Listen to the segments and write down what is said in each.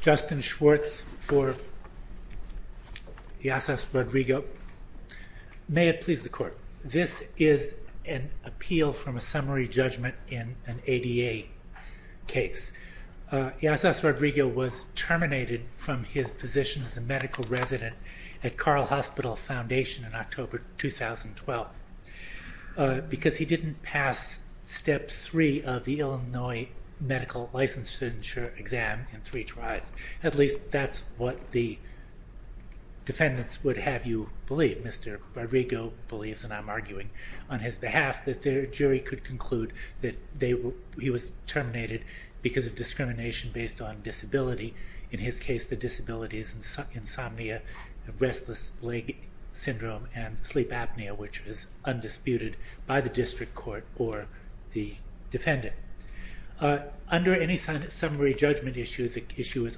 Justin Schwartz for Yassas Rodrigo. May it please the court. This is an appeal from a summary judgment in an ADA case. Yassas Rodrigo was terminated from his position as a medical resident at Carle Hospital Foundation in October 2012 because he didn't pass step 3 of the Illinois medical licensure exam in three tries. At least that's what the defendants would have you believe. Mr. Rodrigo believes, and I'm arguing on his behalf, that their jury could conclude that he was terminated because of discrimination based on disability. In his case the disability is insomnia, restless leg syndrome, and sleep undisputed by the district court or the defendant. Under any summary judgment issue, the issue is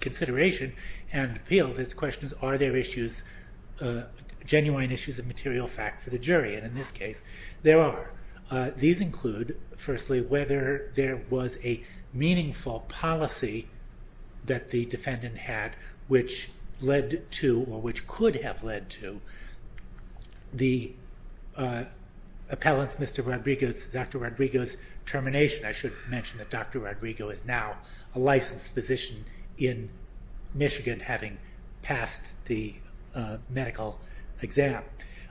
consideration and appeal. The question is are there genuine issues of material fact for the jury? And in this case there are. These include, firstly, whether there was a meaningful policy that the the appellant's Mr. Rodrigo's, Dr. Rodrigo's termination. I should mention that Dr. Rodrigo is now a licensed physician in Michigan having passed the medical exam.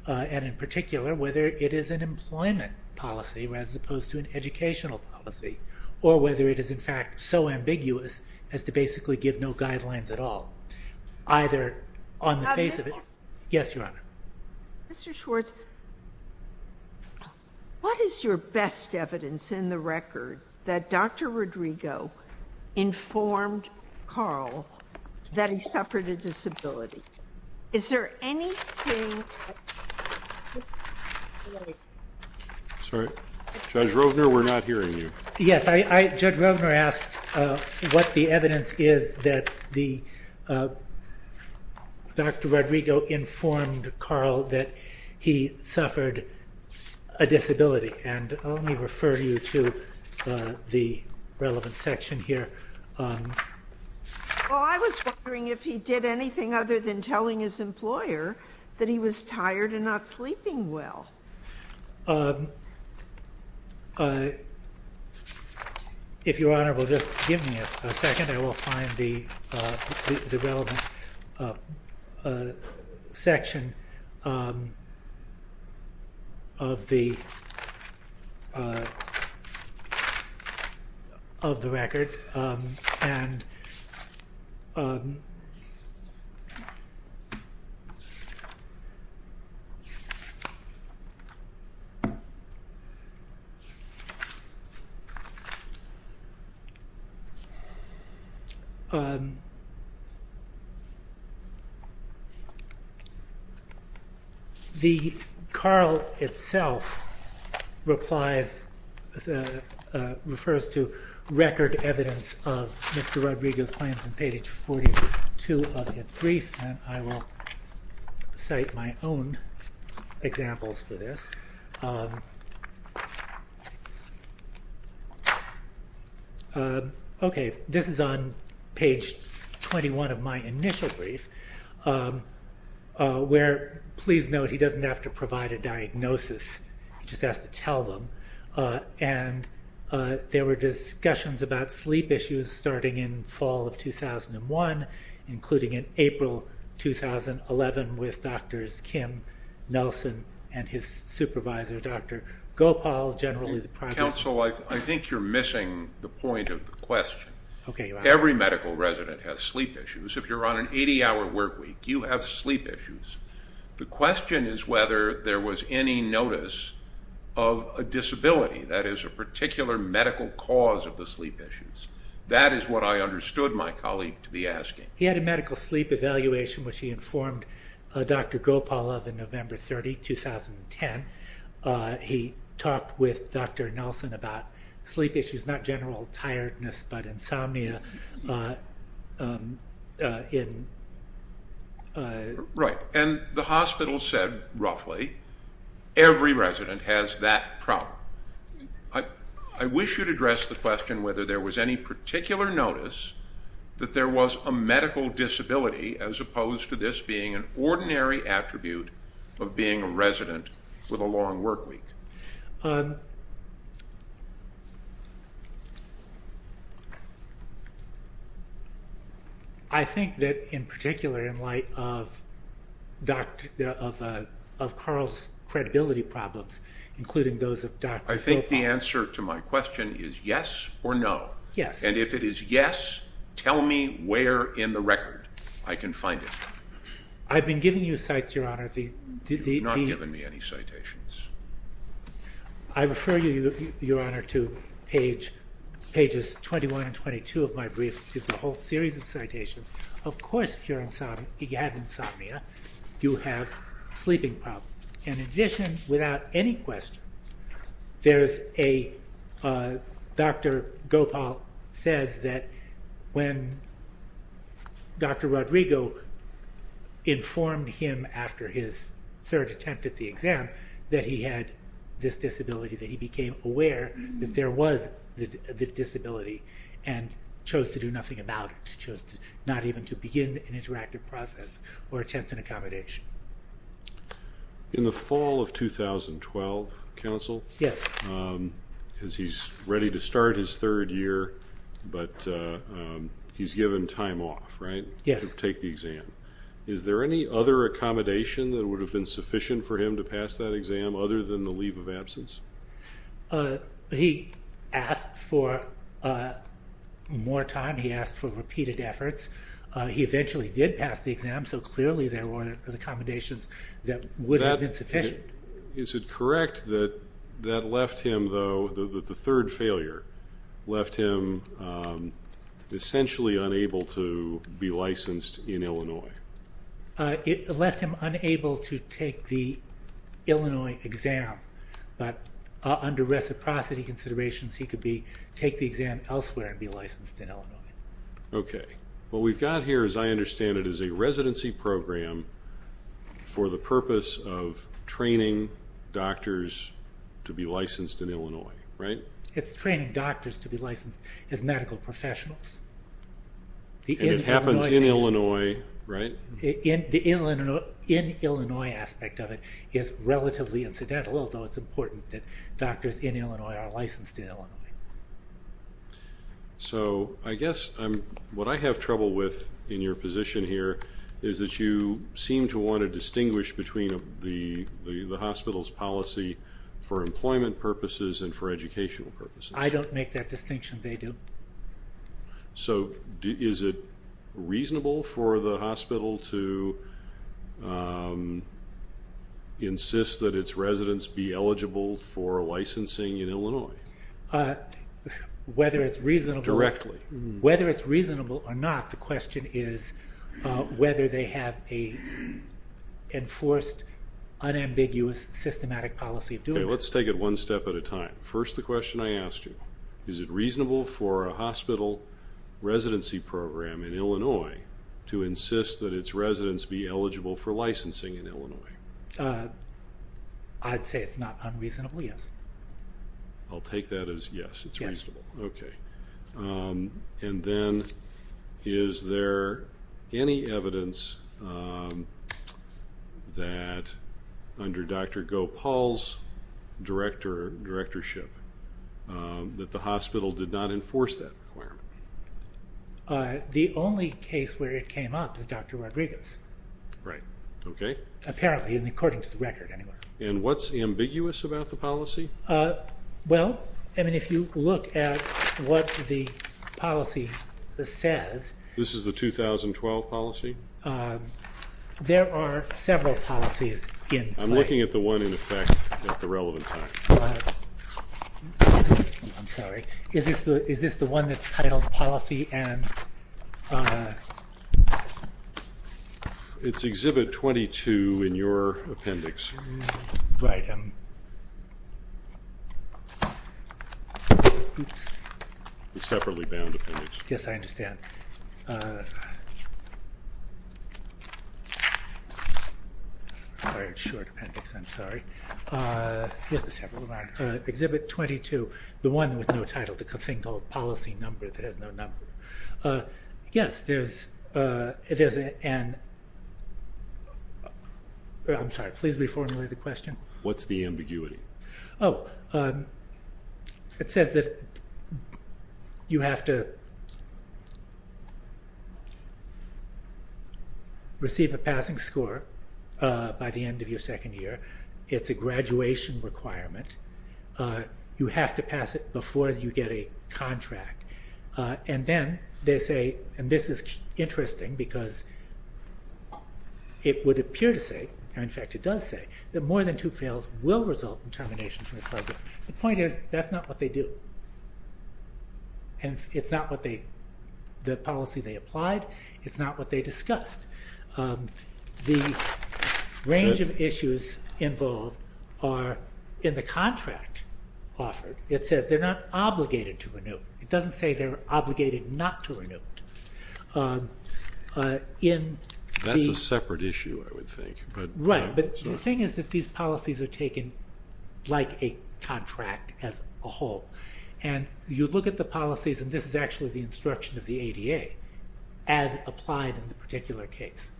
And in particular whether it is an employment policy as opposed to an educational policy or whether it is in fact so ambiguous as to basically give no guidelines at all. Either on the face of it... Yes, Your Honor. Mr. Schwartz, what is your best evidence in the record that Dr. Rodrigo informed Carl that he suffered a disability? Is there anything... Sorry, Judge Rovner, we're not hearing you. Yes, Judge Rovner asked what the Dr. Rodrigo informed Carl that he suffered a disability. And let me refer you to the relevant section here. Well, I was wondering if he did anything other than telling his employer that he was tired and not sleeping well. If Your Honor, the Carl itself replies, refers to record evidence of Mr. Rodrigo's claims in page 42 of its brief. And I will cite my own examples for this. Okay, this is on page 21 of my initial brief where, please note, he doesn't have to provide a diagnosis. He just has to tell them. And there were discussions about sleep issues starting in fall of 2001, including in April 2011 with Drs. Kim Nelson and his supervisor, Dr. Gopal, generally... Counsel, I think you're questioning. Okay, Your Honor. Every medical resident has sleep issues. If you're on an 80-hour workweek, you have sleep issues. The question is whether there was any notice of a disability that is a particular medical cause of the sleep issues. That is what I understood my colleague to be asking. He had a medical sleep evaluation which he informed Dr. Gopal of in November 30, 2010. He talked with Dr. Nelson about sleep issues, not general tiredness, but insomnia. Right. And the hospital said, roughly, every resident has that problem. I wish you'd address the question whether there was any particular notice that there was a medical disability as opposed to this being an ordinary attribute of being a I think that, in particular, in light of Dr., of Carl's credibility problems, including those of Dr. Gopal... I think the answer to my question is yes or no. Yes. And if it is yes, tell me where in the record I can find it. I've been giving you cites, Your Honor. I refer you, Your Honor, to page, pages 21 and 22 of my briefs. It's a whole series of citations. Of course, if you have insomnia, you have sleeping problems. And in addition, without any question, there's a... Dr. Gopal says that when Dr. Rodrigo informed him after his third attempt at the exam that he had this disability, that he became aware that there was the disability and chose to do nothing about it. Chose not even to begin an interactive process or attempt an accommodation. In the fall of 2012, counsel... Yes. As he's ready to start his third year, but he's given time off, right? Yes. To take the exam. Is there any other accommodation that would have been sufficient for him to pass that exam other than the leave of absence? He asked for more time. He asked for repeated efforts. He eventually did pass the exam, so clearly there weren't accommodations that would have been sufficient. Is it correct that that left him, though, the third failure left him essentially unable to be licensed in Illinois? Okay. What we've got here, as I understand it, is a residency program for the purpose of training doctors to be licensed in Illinois, right? It's training doctors to be licensed as medical professionals. It happens in dental, although it's important that doctors in Illinois are licensed in Illinois. So I guess what I have trouble with in your position here is that you seem to want to distinguish between the hospital's policy for employment purposes and for educational purposes. I don't make that distinction. They do. So is it reasonable for the hospital to insist that its residents be eligible for licensing in Illinois? Whether it's reasonable or not, the question is whether they have a enforced, unambiguous, systematic policy of doing so. Let's take it one step at a time. First, the question I asked you, is it reasonable for a residency program in Illinois to insist that its residents be eligible for licensing in Illinois? I'd say it's not unreasonable, yes. I'll take that as yes, it's reasonable. Okay. And then, is there any evidence that under Dr. Gopal's directorship that the hospital did not enforce that requirement? The only case where it came up is Dr. Rodriguez. Right, okay. Apparently, and according to the record, anyway. And what's ambiguous about the policy? Well, I mean, if you look at what the policy says. This is the 2012 policy? There are several policies in play. I'm looking at the one in effect at the title of the policy. It's Exhibit 22 in your appendix. Yes, I understand. It's a short appendix, I'm sorry. Exhibit 22, the one with no title, the thing called policy number that has no number. Yes, there's an... I'm sorry, please reformulate the question. What's the ambiguity? Oh, it says that you have to receive a passing score by the end of your second year. It's a graduation requirement. You have to pass it before you get a contract. And then they say, and this is interesting because it would appear to say, and in fact it does say, that more than two fails will result in termination from the program. The point is, that's not what they do. And it's not what they, the policy they applied, it's not what they discussed. The range of issues involved are in the contract offered. It says they're not obligated to renew. It doesn't say they're obligated not to renew. That's a separate issue, I would think. Right, but the thing is that these policies are taken like a contract as a whole. And you look at the policies, and this is actually the instruction of the ADA, as applied in the particular case.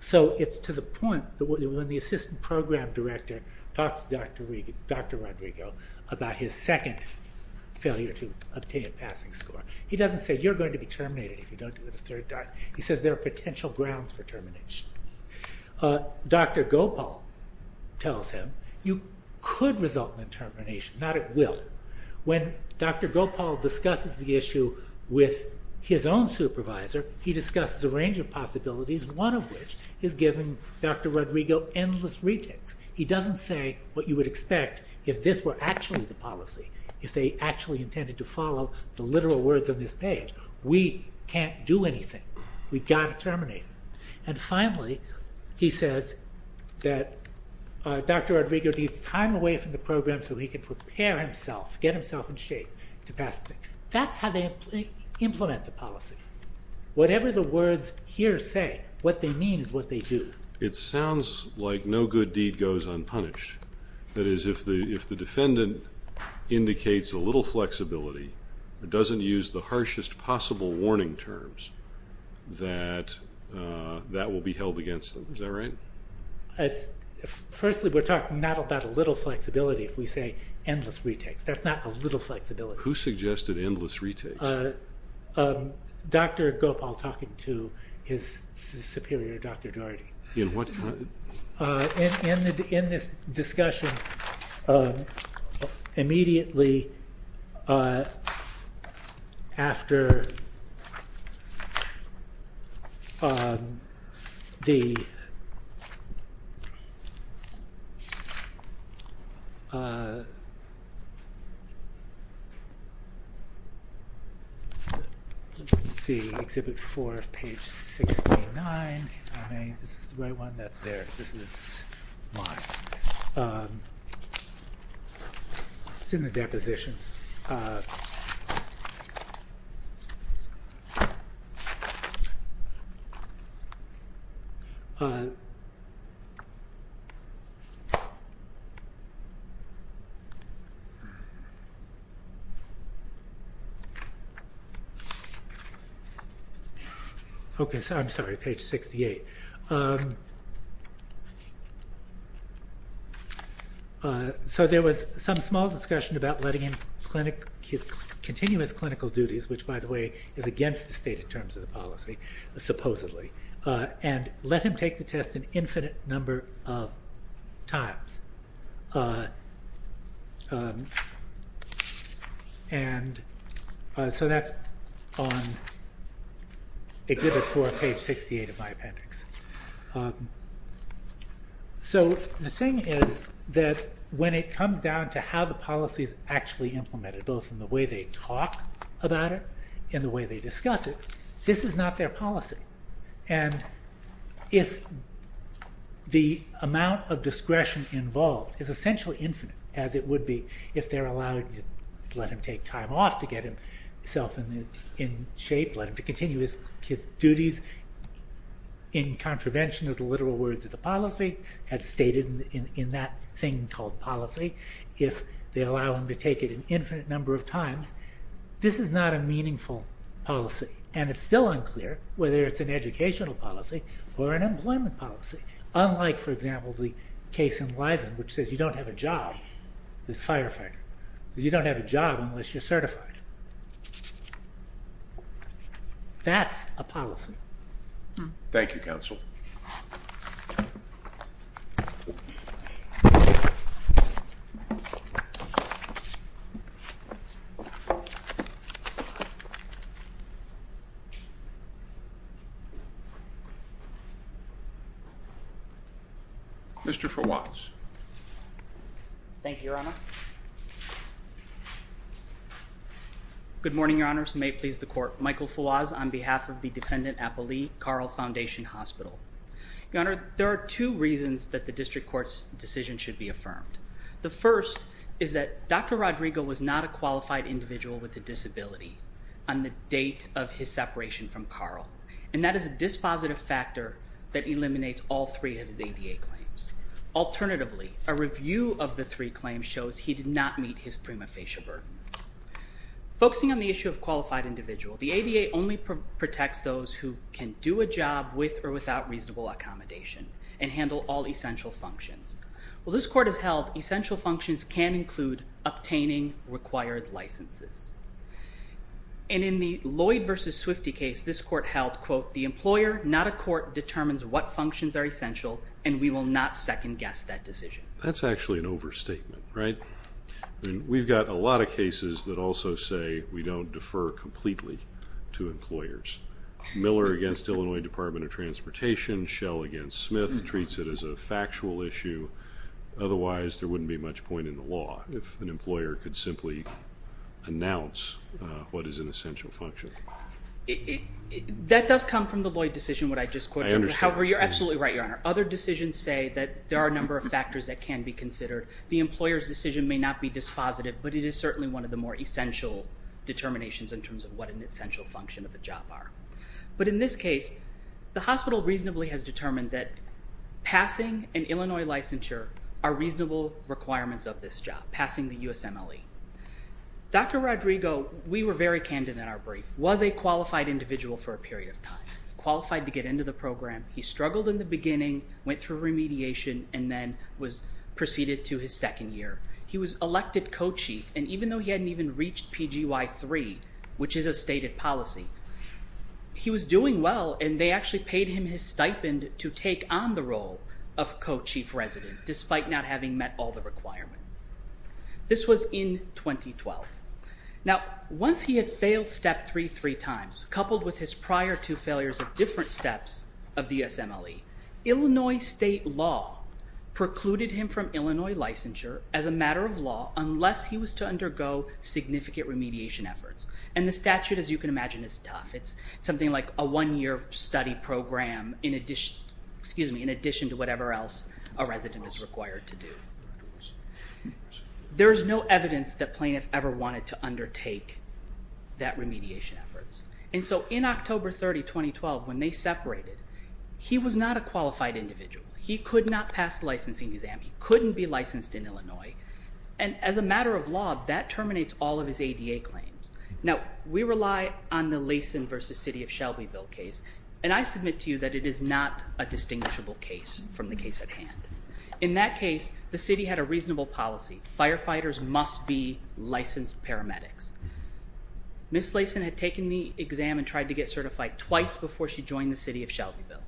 So it's to the point that when the assistant program director talks to Dr. Rodrigo about his second failure to obtain a passing score, he doesn't say you're going to be terminated if you don't do it a third time. He says there are potential grounds for termination. Dr. Gopal tells him, you could result in termination, not it will. When Dr. Gopal discusses the issue with his own supervisor, he discusses a range of possibilities, one of which is giving Dr. Rodrigo endless retakes. He doesn't say what you would expect if this were actually the policy, if they actually intended to follow the literal words on this page. We can't do anything. We've got to terminate. And finally, he says that Dr. Rodrigo has to get away from the program so he can prepare himself, get himself in shape to pass the thing. That's how they implement the policy. Whatever the words here say, what they mean is what they do. It sounds like no good deed goes unpunished. That is, if the defendant indicates a little flexibility, doesn't use the harshest possible warning terms, that that will be if we say endless retakes. That's not a little flexibility. Who suggested endless retakes? Dr. Gopal talking to his superior, Dr. Daugherty. In what kind? In this discussion, immediately after the see exhibit 4 page 69, this is the right one, that's theirs, this is mine. It's in the right hand side. Okay so I'm sorry, page 68. So there was some small discussion about letting in continuous clinical duties, which by the way is against the stated terms of the policy, supposedly, and let him take the test an infinite number of times. And so that's on exhibit 4, page 68 of my appendix. So the thing is that when it comes down to how the policies actually implemented, both in the way they talk about it and the way they discuss it, this is not their policy. And if the amount of discretion involved is essentially infinite, as it would be if they're allowed to let him take time off to get himself in shape, let him to continue his duties in contravention of the literal words of the policy as stated in that thing called policy, if they allow him to take it an infinite number of times, this is not a meaningful policy. And it's still unclear whether it's an educational policy or an employment policy, unlike for example the case in Lyson, which says you don't have a job as a firefighter. You don't have a job unless you're certified. That's a policy. Thank you, Counsel. Mr. Fawaz. Good morning, Your Honors. May it please the Court. Michael Fawaz on behalf of the Defendant Appalee Carl Foundation Hospital. Your Honor, there are two reasons that the District Court's decision should be affirmed. The first is that Dr. Rodrigo was not a qualified individual with a disability on the date of his separation from Carl. And that is a dispositive factor that eliminates all three of his ADA claims. Alternatively, a review of the three claims shows he did not meet his prima facie burden. Focusing on the issue of qualified individual, the ADA only protects those who can do a job with or without reasonable accommodation and handle all essential functions. While this Court has held essential functions can include obtaining required licenses. And in the Lloyd v. Swifty case, this Court held, quote, the employer, not a court, determines what functions are essential and we will not second guess that decision. That's actually an overstatement, right? We've got a lot of cases that also say we don't defer completely to employers. Miller against Illinois Department of Transportation, Schell against Smith treats it as a factual issue. Otherwise, there wouldn't be much point in the law if an employer could simply announce what is an essential function. That does come from the Lloyd decision, what I just quoted. However, you're absolutely right, Your Honor. Other decisions say that there are a number of factors that can be considered. The employer's decision may not be dispositive, but it is certainly one of the more essential determinations in terms of what an essential function of the job are. But in this case, the hospital reasonably has determined that passing an Illinois licensure are reasonable requirements of this job, passing the USMLE. Dr. Rodrigo, we were very candid in our brief, was a qualified individual for a period of time, qualified to get into the program. He struggled in the beginning, went through remediation, and then proceeded to his second year. He was elected co-chief, and even though he hadn't even reached PGY3, which is a stated policy, he was doing well, and they actually paid him his stipend to take on the role of co-chief resident despite not having met all the requirements. This was in 2012. Now, once he had failed Step 3 three times, coupled with his prior two failures of different USMLE, Illinois state law precluded him from Illinois licensure as a matter of law unless he was to undergo significant remediation efforts. The statute, as you can imagine, is tough. It's something like a one-year study program in addition to whatever else a resident is required to do. There's no evidence that plaintiff ever wanted to undertake that remediation efforts, and so in October 30, 2012, when they separated, he was not a qualified individual. He could not pass the licensing exam. He couldn't be licensed in Illinois, and as a matter of law, that terminates all of his ADA claims. Now, we rely on the Laysen v. City of Shelbyville case, and I submit to you that it is not a distinguishable case from the case at hand. In that case, the city had a reasonable policy. Firefighters must be licensed paramedics. Ms. Laysen had taken the exam and tried to get certified twice before she joined the City of Shelbyville.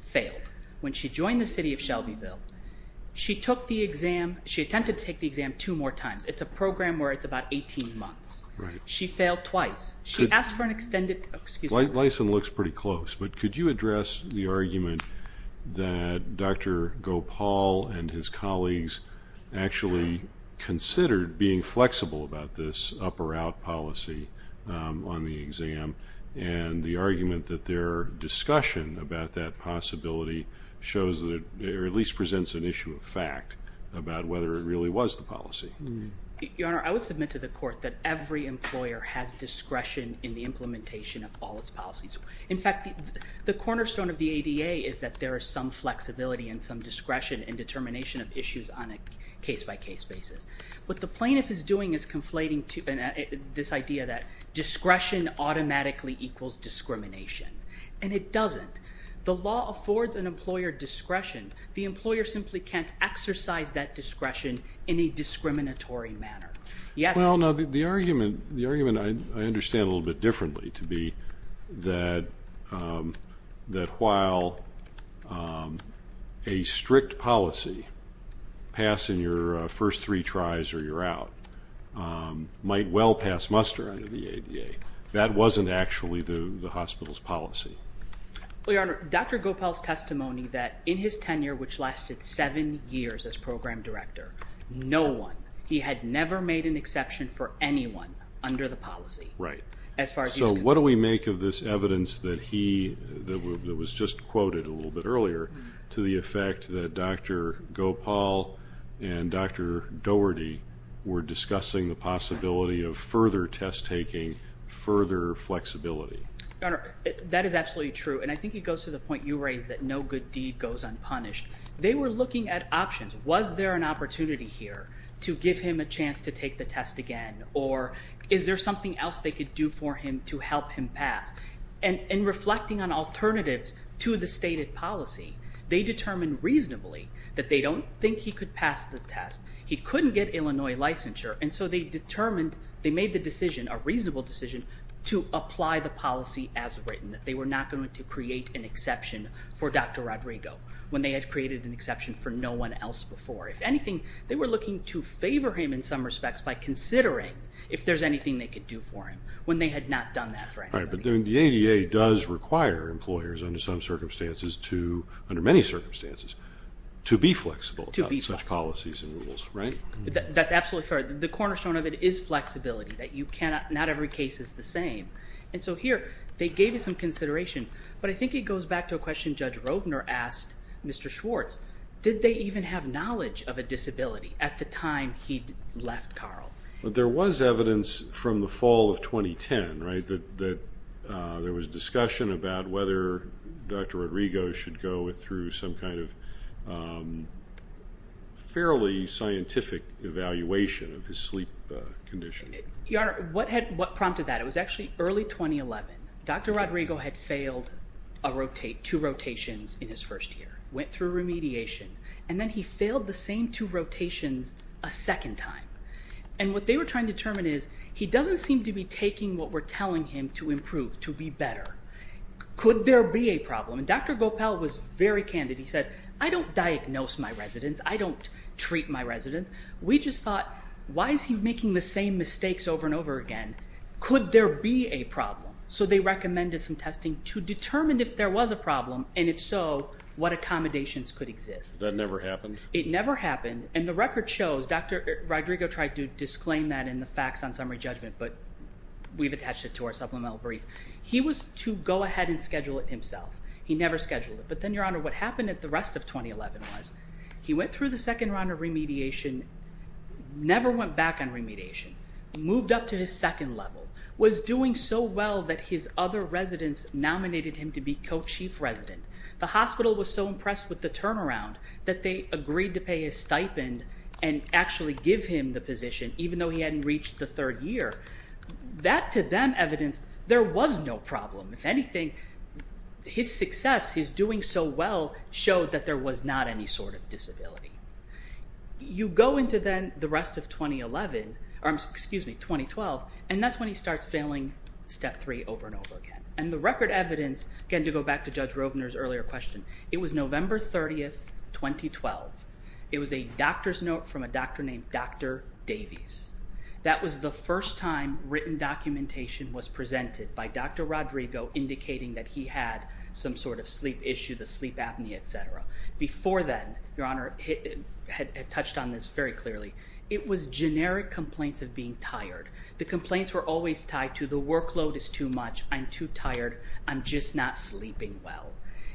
Failed. When she joined the City of Shelbyville, she took the exam, she attempted to take the exam two more times. It's a program where it's about 18 months. She failed twice. She asked for an extended, excuse me. Laysen looks pretty close, but could you address the argument that Dr. Gopal and his colleagues actually considered being flexible about this up-or-out policy on the exam, and the argument that their discussion about that possibility shows, or at least presents an issue of fact about whether it really was the policy? Your Honor, I would submit to the Court that every employer has discretion in the implementation of all its policies. In fact, the cornerstone of the ADA is that there is some flexibility and some discretion in determination of issues on a case-by-case basis. What the plaintiff is doing is conflating this idea that discretion automatically equals discrimination, and it doesn't. The law affords an employer discretion. The employer simply can't exercise that discretion in a discriminatory manner. Well, now, the argument I understand a little bit differently to be that while a strict policy, passing your first three tries or you're out, might well pass muster under the ADA, that wasn't actually the hospital's policy. Well, Your Honor, Dr. Gopal's testimony that in his tenure, which lasted seven years as program director, no one, he had never made an exception for anyone under the policy as far as he was concerned. So what do we make of this evidence that he, that was just quoted a little bit earlier, to the effect that Dr. Gopal and Dr. Doherty were discussing the possibility of further test taking, further flexibility? Your Honor, that is absolutely true, and I think it goes to the point you raised that no good deed goes unpunished. They were looking at options. Was there an opportunity here to give him a chance to take the test again? Or is there something else they could do for him to help him pass? And reflecting on alternatives to the stated policy, they determined reasonably that they don't think he could pass the test. He couldn't get Illinois licensure, and so they determined, they made the decision, a reasonable decision, to apply the policy as written, that they were not going to create an exception for Dr. Rodrigo when they had created an exception for no one else before. If anything, they were looking to favor him in some respects by considering if there's anything they could do for him when they had not done that for anybody. Right, but the ADA does require employers under some circumstances to, under many circumstances, to be flexible about such policies and rules, right? That's absolutely fair. The cornerstone of it is flexibility, that you cannot, not every case is the same. And so here, they gave you some consideration, but I think it goes back to a question Judge Rovner asked Mr. Schwartz. Did they even have knowledge of a disability at the time he'd left Carl? There was evidence from the fall of 2010 that there was discussion about whether Dr. Rodrigo should go through some kind of fairly scientific evaluation of his sleep condition. Your Honor, what prompted that? It was actually early 2011. Dr. Rodrigo had failed two rotations in his first year, went through remediation, and then he failed the same two rotations a second time. And what they were trying to tell him to improve, to be better. Could there be a problem? And Dr. Gopal was very candid. He said, I don't diagnose my residents. I don't treat my residents. We just thought, why is he making the same mistakes over and over again? Could there be a problem? So they recommended some testing to determine if there was a problem, and if so, what accommodations could exist. That never happened? It never happened, and the record shows Dr. Rodrigo tried to disclaim that in the facts on summary judgment, but we've attached it to our supplemental brief. He was to go ahead and schedule it himself. He never scheduled it. But then, Your Honor, what happened at the rest of 2011 was, he went through the second round of remediation, never went back on remediation, moved up to his second level, was doing so well that his other residents nominated him to be co-chief resident. The hospital was so impressed with the turnaround that they agreed to pay his stipend and actually give him the position, even though he hadn't reached the third year. That, to them, evidenced there was no problem. If anything, his success, his doing so well, showed that there was not any sort of disability. You go into then the rest of 2012, and that's when he starts failing Step 3 over and over again. And the record for November 30, 2012, it was a doctor's note from a doctor named Dr. Davies. That was the first time written documentation was presented by Dr. Rodrigo indicating that he had some sort of sleep issue, the sleep apnea, etc. Before then, Your Honor, it had touched on this very clearly. It was generic complaints of being tired. The complaints were always tied to the workload is too much, I'm too tired, I'm just not sleeping well.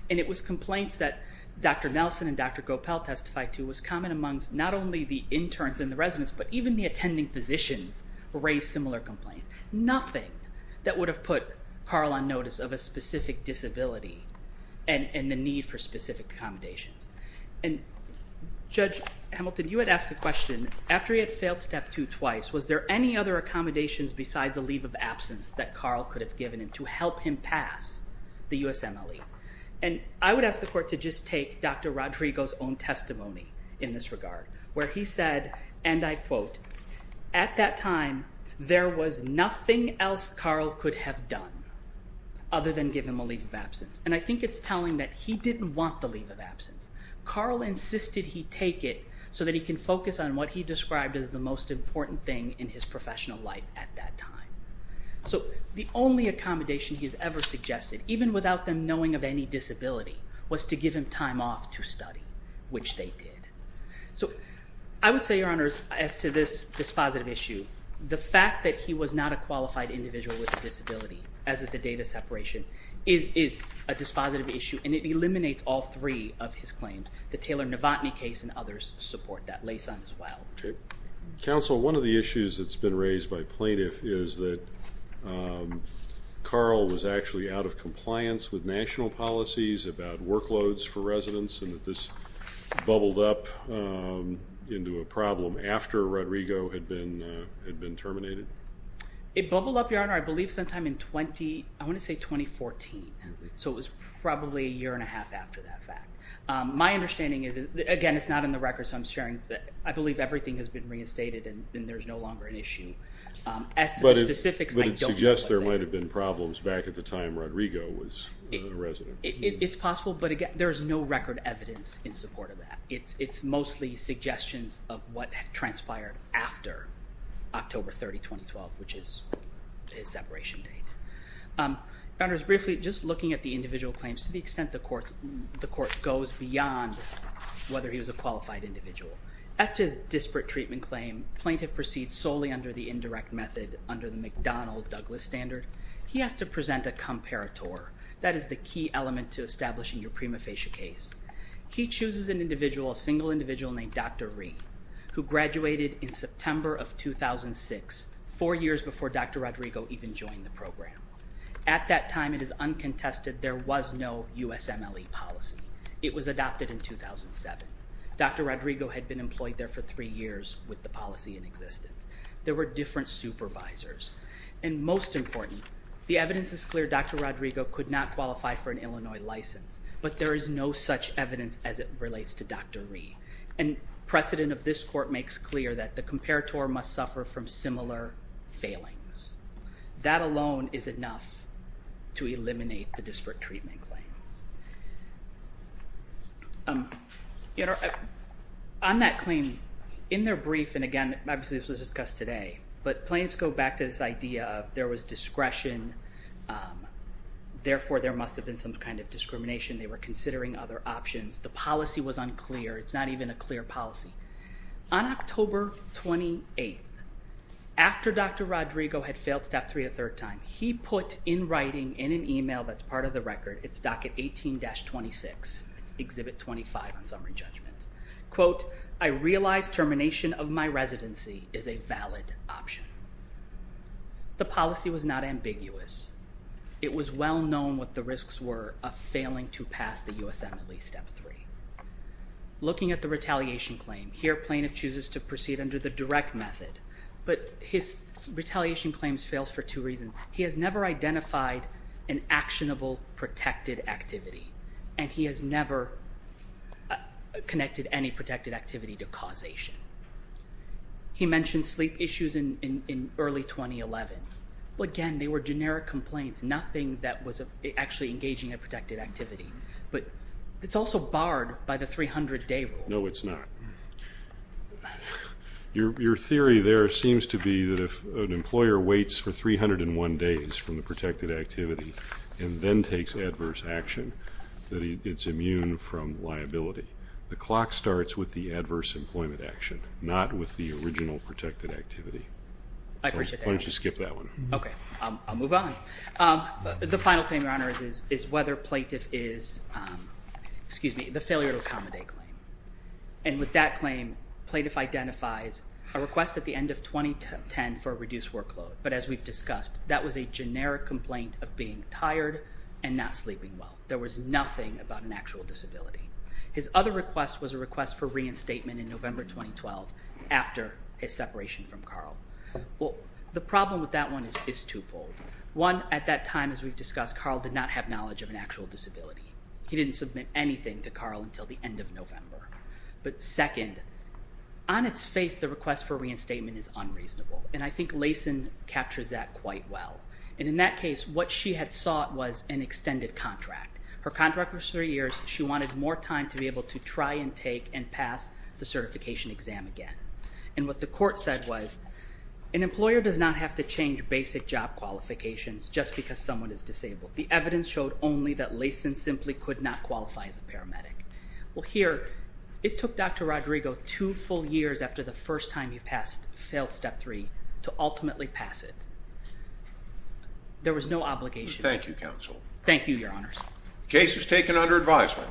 And it was complaints that Dr. Nelson and Dr. Gopal testified to was common amongst not only the interns and the residents, but even the attending physicians raised similar complaints. Nothing that would have put Carl on notice of a specific disability and the need for specific accommodations. Judge Hamilton, you had asked the question, after he had failed Step 2 twice, was there any other accommodations besides the leave of absence that Carl could have given him to help him pass the USMLE? And I would ask the Court to just take Dr. Rodrigo's own testimony in this regard, where he said, and I quote, at that time, there was nothing else Carl could have done other than give him a leave of absence. And I think it's telling that he didn't want the leave of absence. Carl insisted he take it so that he can focus on what he described as the most important thing in his professional life at that time. So the only accommodation he's ever suggested, even without them knowing of any disability, was to give him time off to study, which they did. So I would say, Your Honors, as to this dispositive issue, the fact that he was not a qualified individual with a disability, as of the date of separation, is a dispositive issue, and it eliminates all three of his claims. The Taylor-Navotny case and others support that, Laysan as well. Okay. Counsel, one of the issues that's been raised by plaintiff is that Carl was actually out of compliance with national policies about workloads for residents, and that this bubbled up into a problem after Rodrigo had been terminated. It bubbled up, Your Honor, I believe sometime in 20, I want to say 2014. So it was probably a year and a half after that fact. My understanding is, again, it's not in the record, so I'm sharing, I believe everything has been reinstated and there's no longer an issue. As to the specifics, I don't know. But it suggests there might have been problems back at the time Rodrigo was a resident. It's possible, but there's no record evidence in support of that. It's mostly suggestions of what transpired after October 30, 2012, which is his separation date. Your Honors, briefly, just looking at the individual claims to the extent the court goes beyond whether he was a qualified individual. As to his disparate treatment claim, plaintiff proceeds solely under the indirect method under the McDonnell-Douglas standard. He has to present a comparator. That is the key element to establishing your prima facie case. He chooses an individual, a single individual named Dr. Rhee, who graduated in September of 2006, four years before Dr. Rodrigo even joined the program. At that time, it is uncontested, there was no USMLE policy. It was adopted in 2007. Dr. Rodrigo had been employed there for three years with the policy in existence. There were different supervisors. And most important, the evidence is clear Dr. Rodrigo could not qualify for an Illinois license, but there is no such evidence as it relates to Dr. Rhee. And precedent of this court makes clear that the comparator must suffer from similar failings. That alone is enough to eliminate the disparate treatment claim. On that claim, in their brief, and again, obviously this was discussed today, but plaintiffs go back to this idea of there was discretion. Therefore, there must have been some kind of discrimination. They were considering other options. The policy was unclear. It's not even a clear policy. On October 28th, after Dr. Rodrigo had failed Step 3 a third time, he put in writing, in an email that's part of the record, it's docket 18-26, it's exhibit 25 on summary judgment, quote, I realize termination of my residency is a valid option. The policy was not ambiguous. It was well known what the risks were of failing to pass the USMLE Step 3. Looking at the retaliation claim, here plaintiff chooses to proceed under the direct method, but his retaliation claims fails for two reasons. He has never identified an actionable protected activity, and he has never connected any protected activity to causation. He mentioned sleep issues in early 2011. Again, they were generic complaints, nothing that was actually engaging a protected activity, but it's also barred by the 300 day rule. No, it's not. Your theory there seems to be that if an employer waits for 301 days from the protected activity and then takes adverse action, that it's immune from liability. The clock starts with the adverse employment action, not with the original protected activity. Why don't you skip that one? Okay, I'll move on. The final claim, Your Honor, is whether plaintiff is, excuse me, the failure to accommodate claim. With that claim, plaintiff identifies a request at the end of 2010 for a reduced workload, but as we've discussed, that was a generic complaint of being tired and not sleeping well. There was nothing about an actual disability. His other request was a request for reinstatement in November 2012 after his separation from Carl. The problem with that one is twofold. One, at that time, as we've discussed, Carl did not have knowledge of an actual disability. He didn't submit anything to Carl until the end of November. But second, on its face, the request for reinstatement is unreasonable, and I think Lason captures that quite well. In that case, what she had sought was an extended contract. Her contract was three years. She wanted more time to be there. And what the court said was, an employer does not have to change basic job qualifications just because someone is disabled. The evidence showed only that Lason simply could not qualify as a paramedic. Well, here, it took Dr. Rodrigo two full years after the first time he passed failed step three to ultimately pass it. There was no obligation. Thank you, counsel. Thank you, Your Honors. Case is taken under advisement.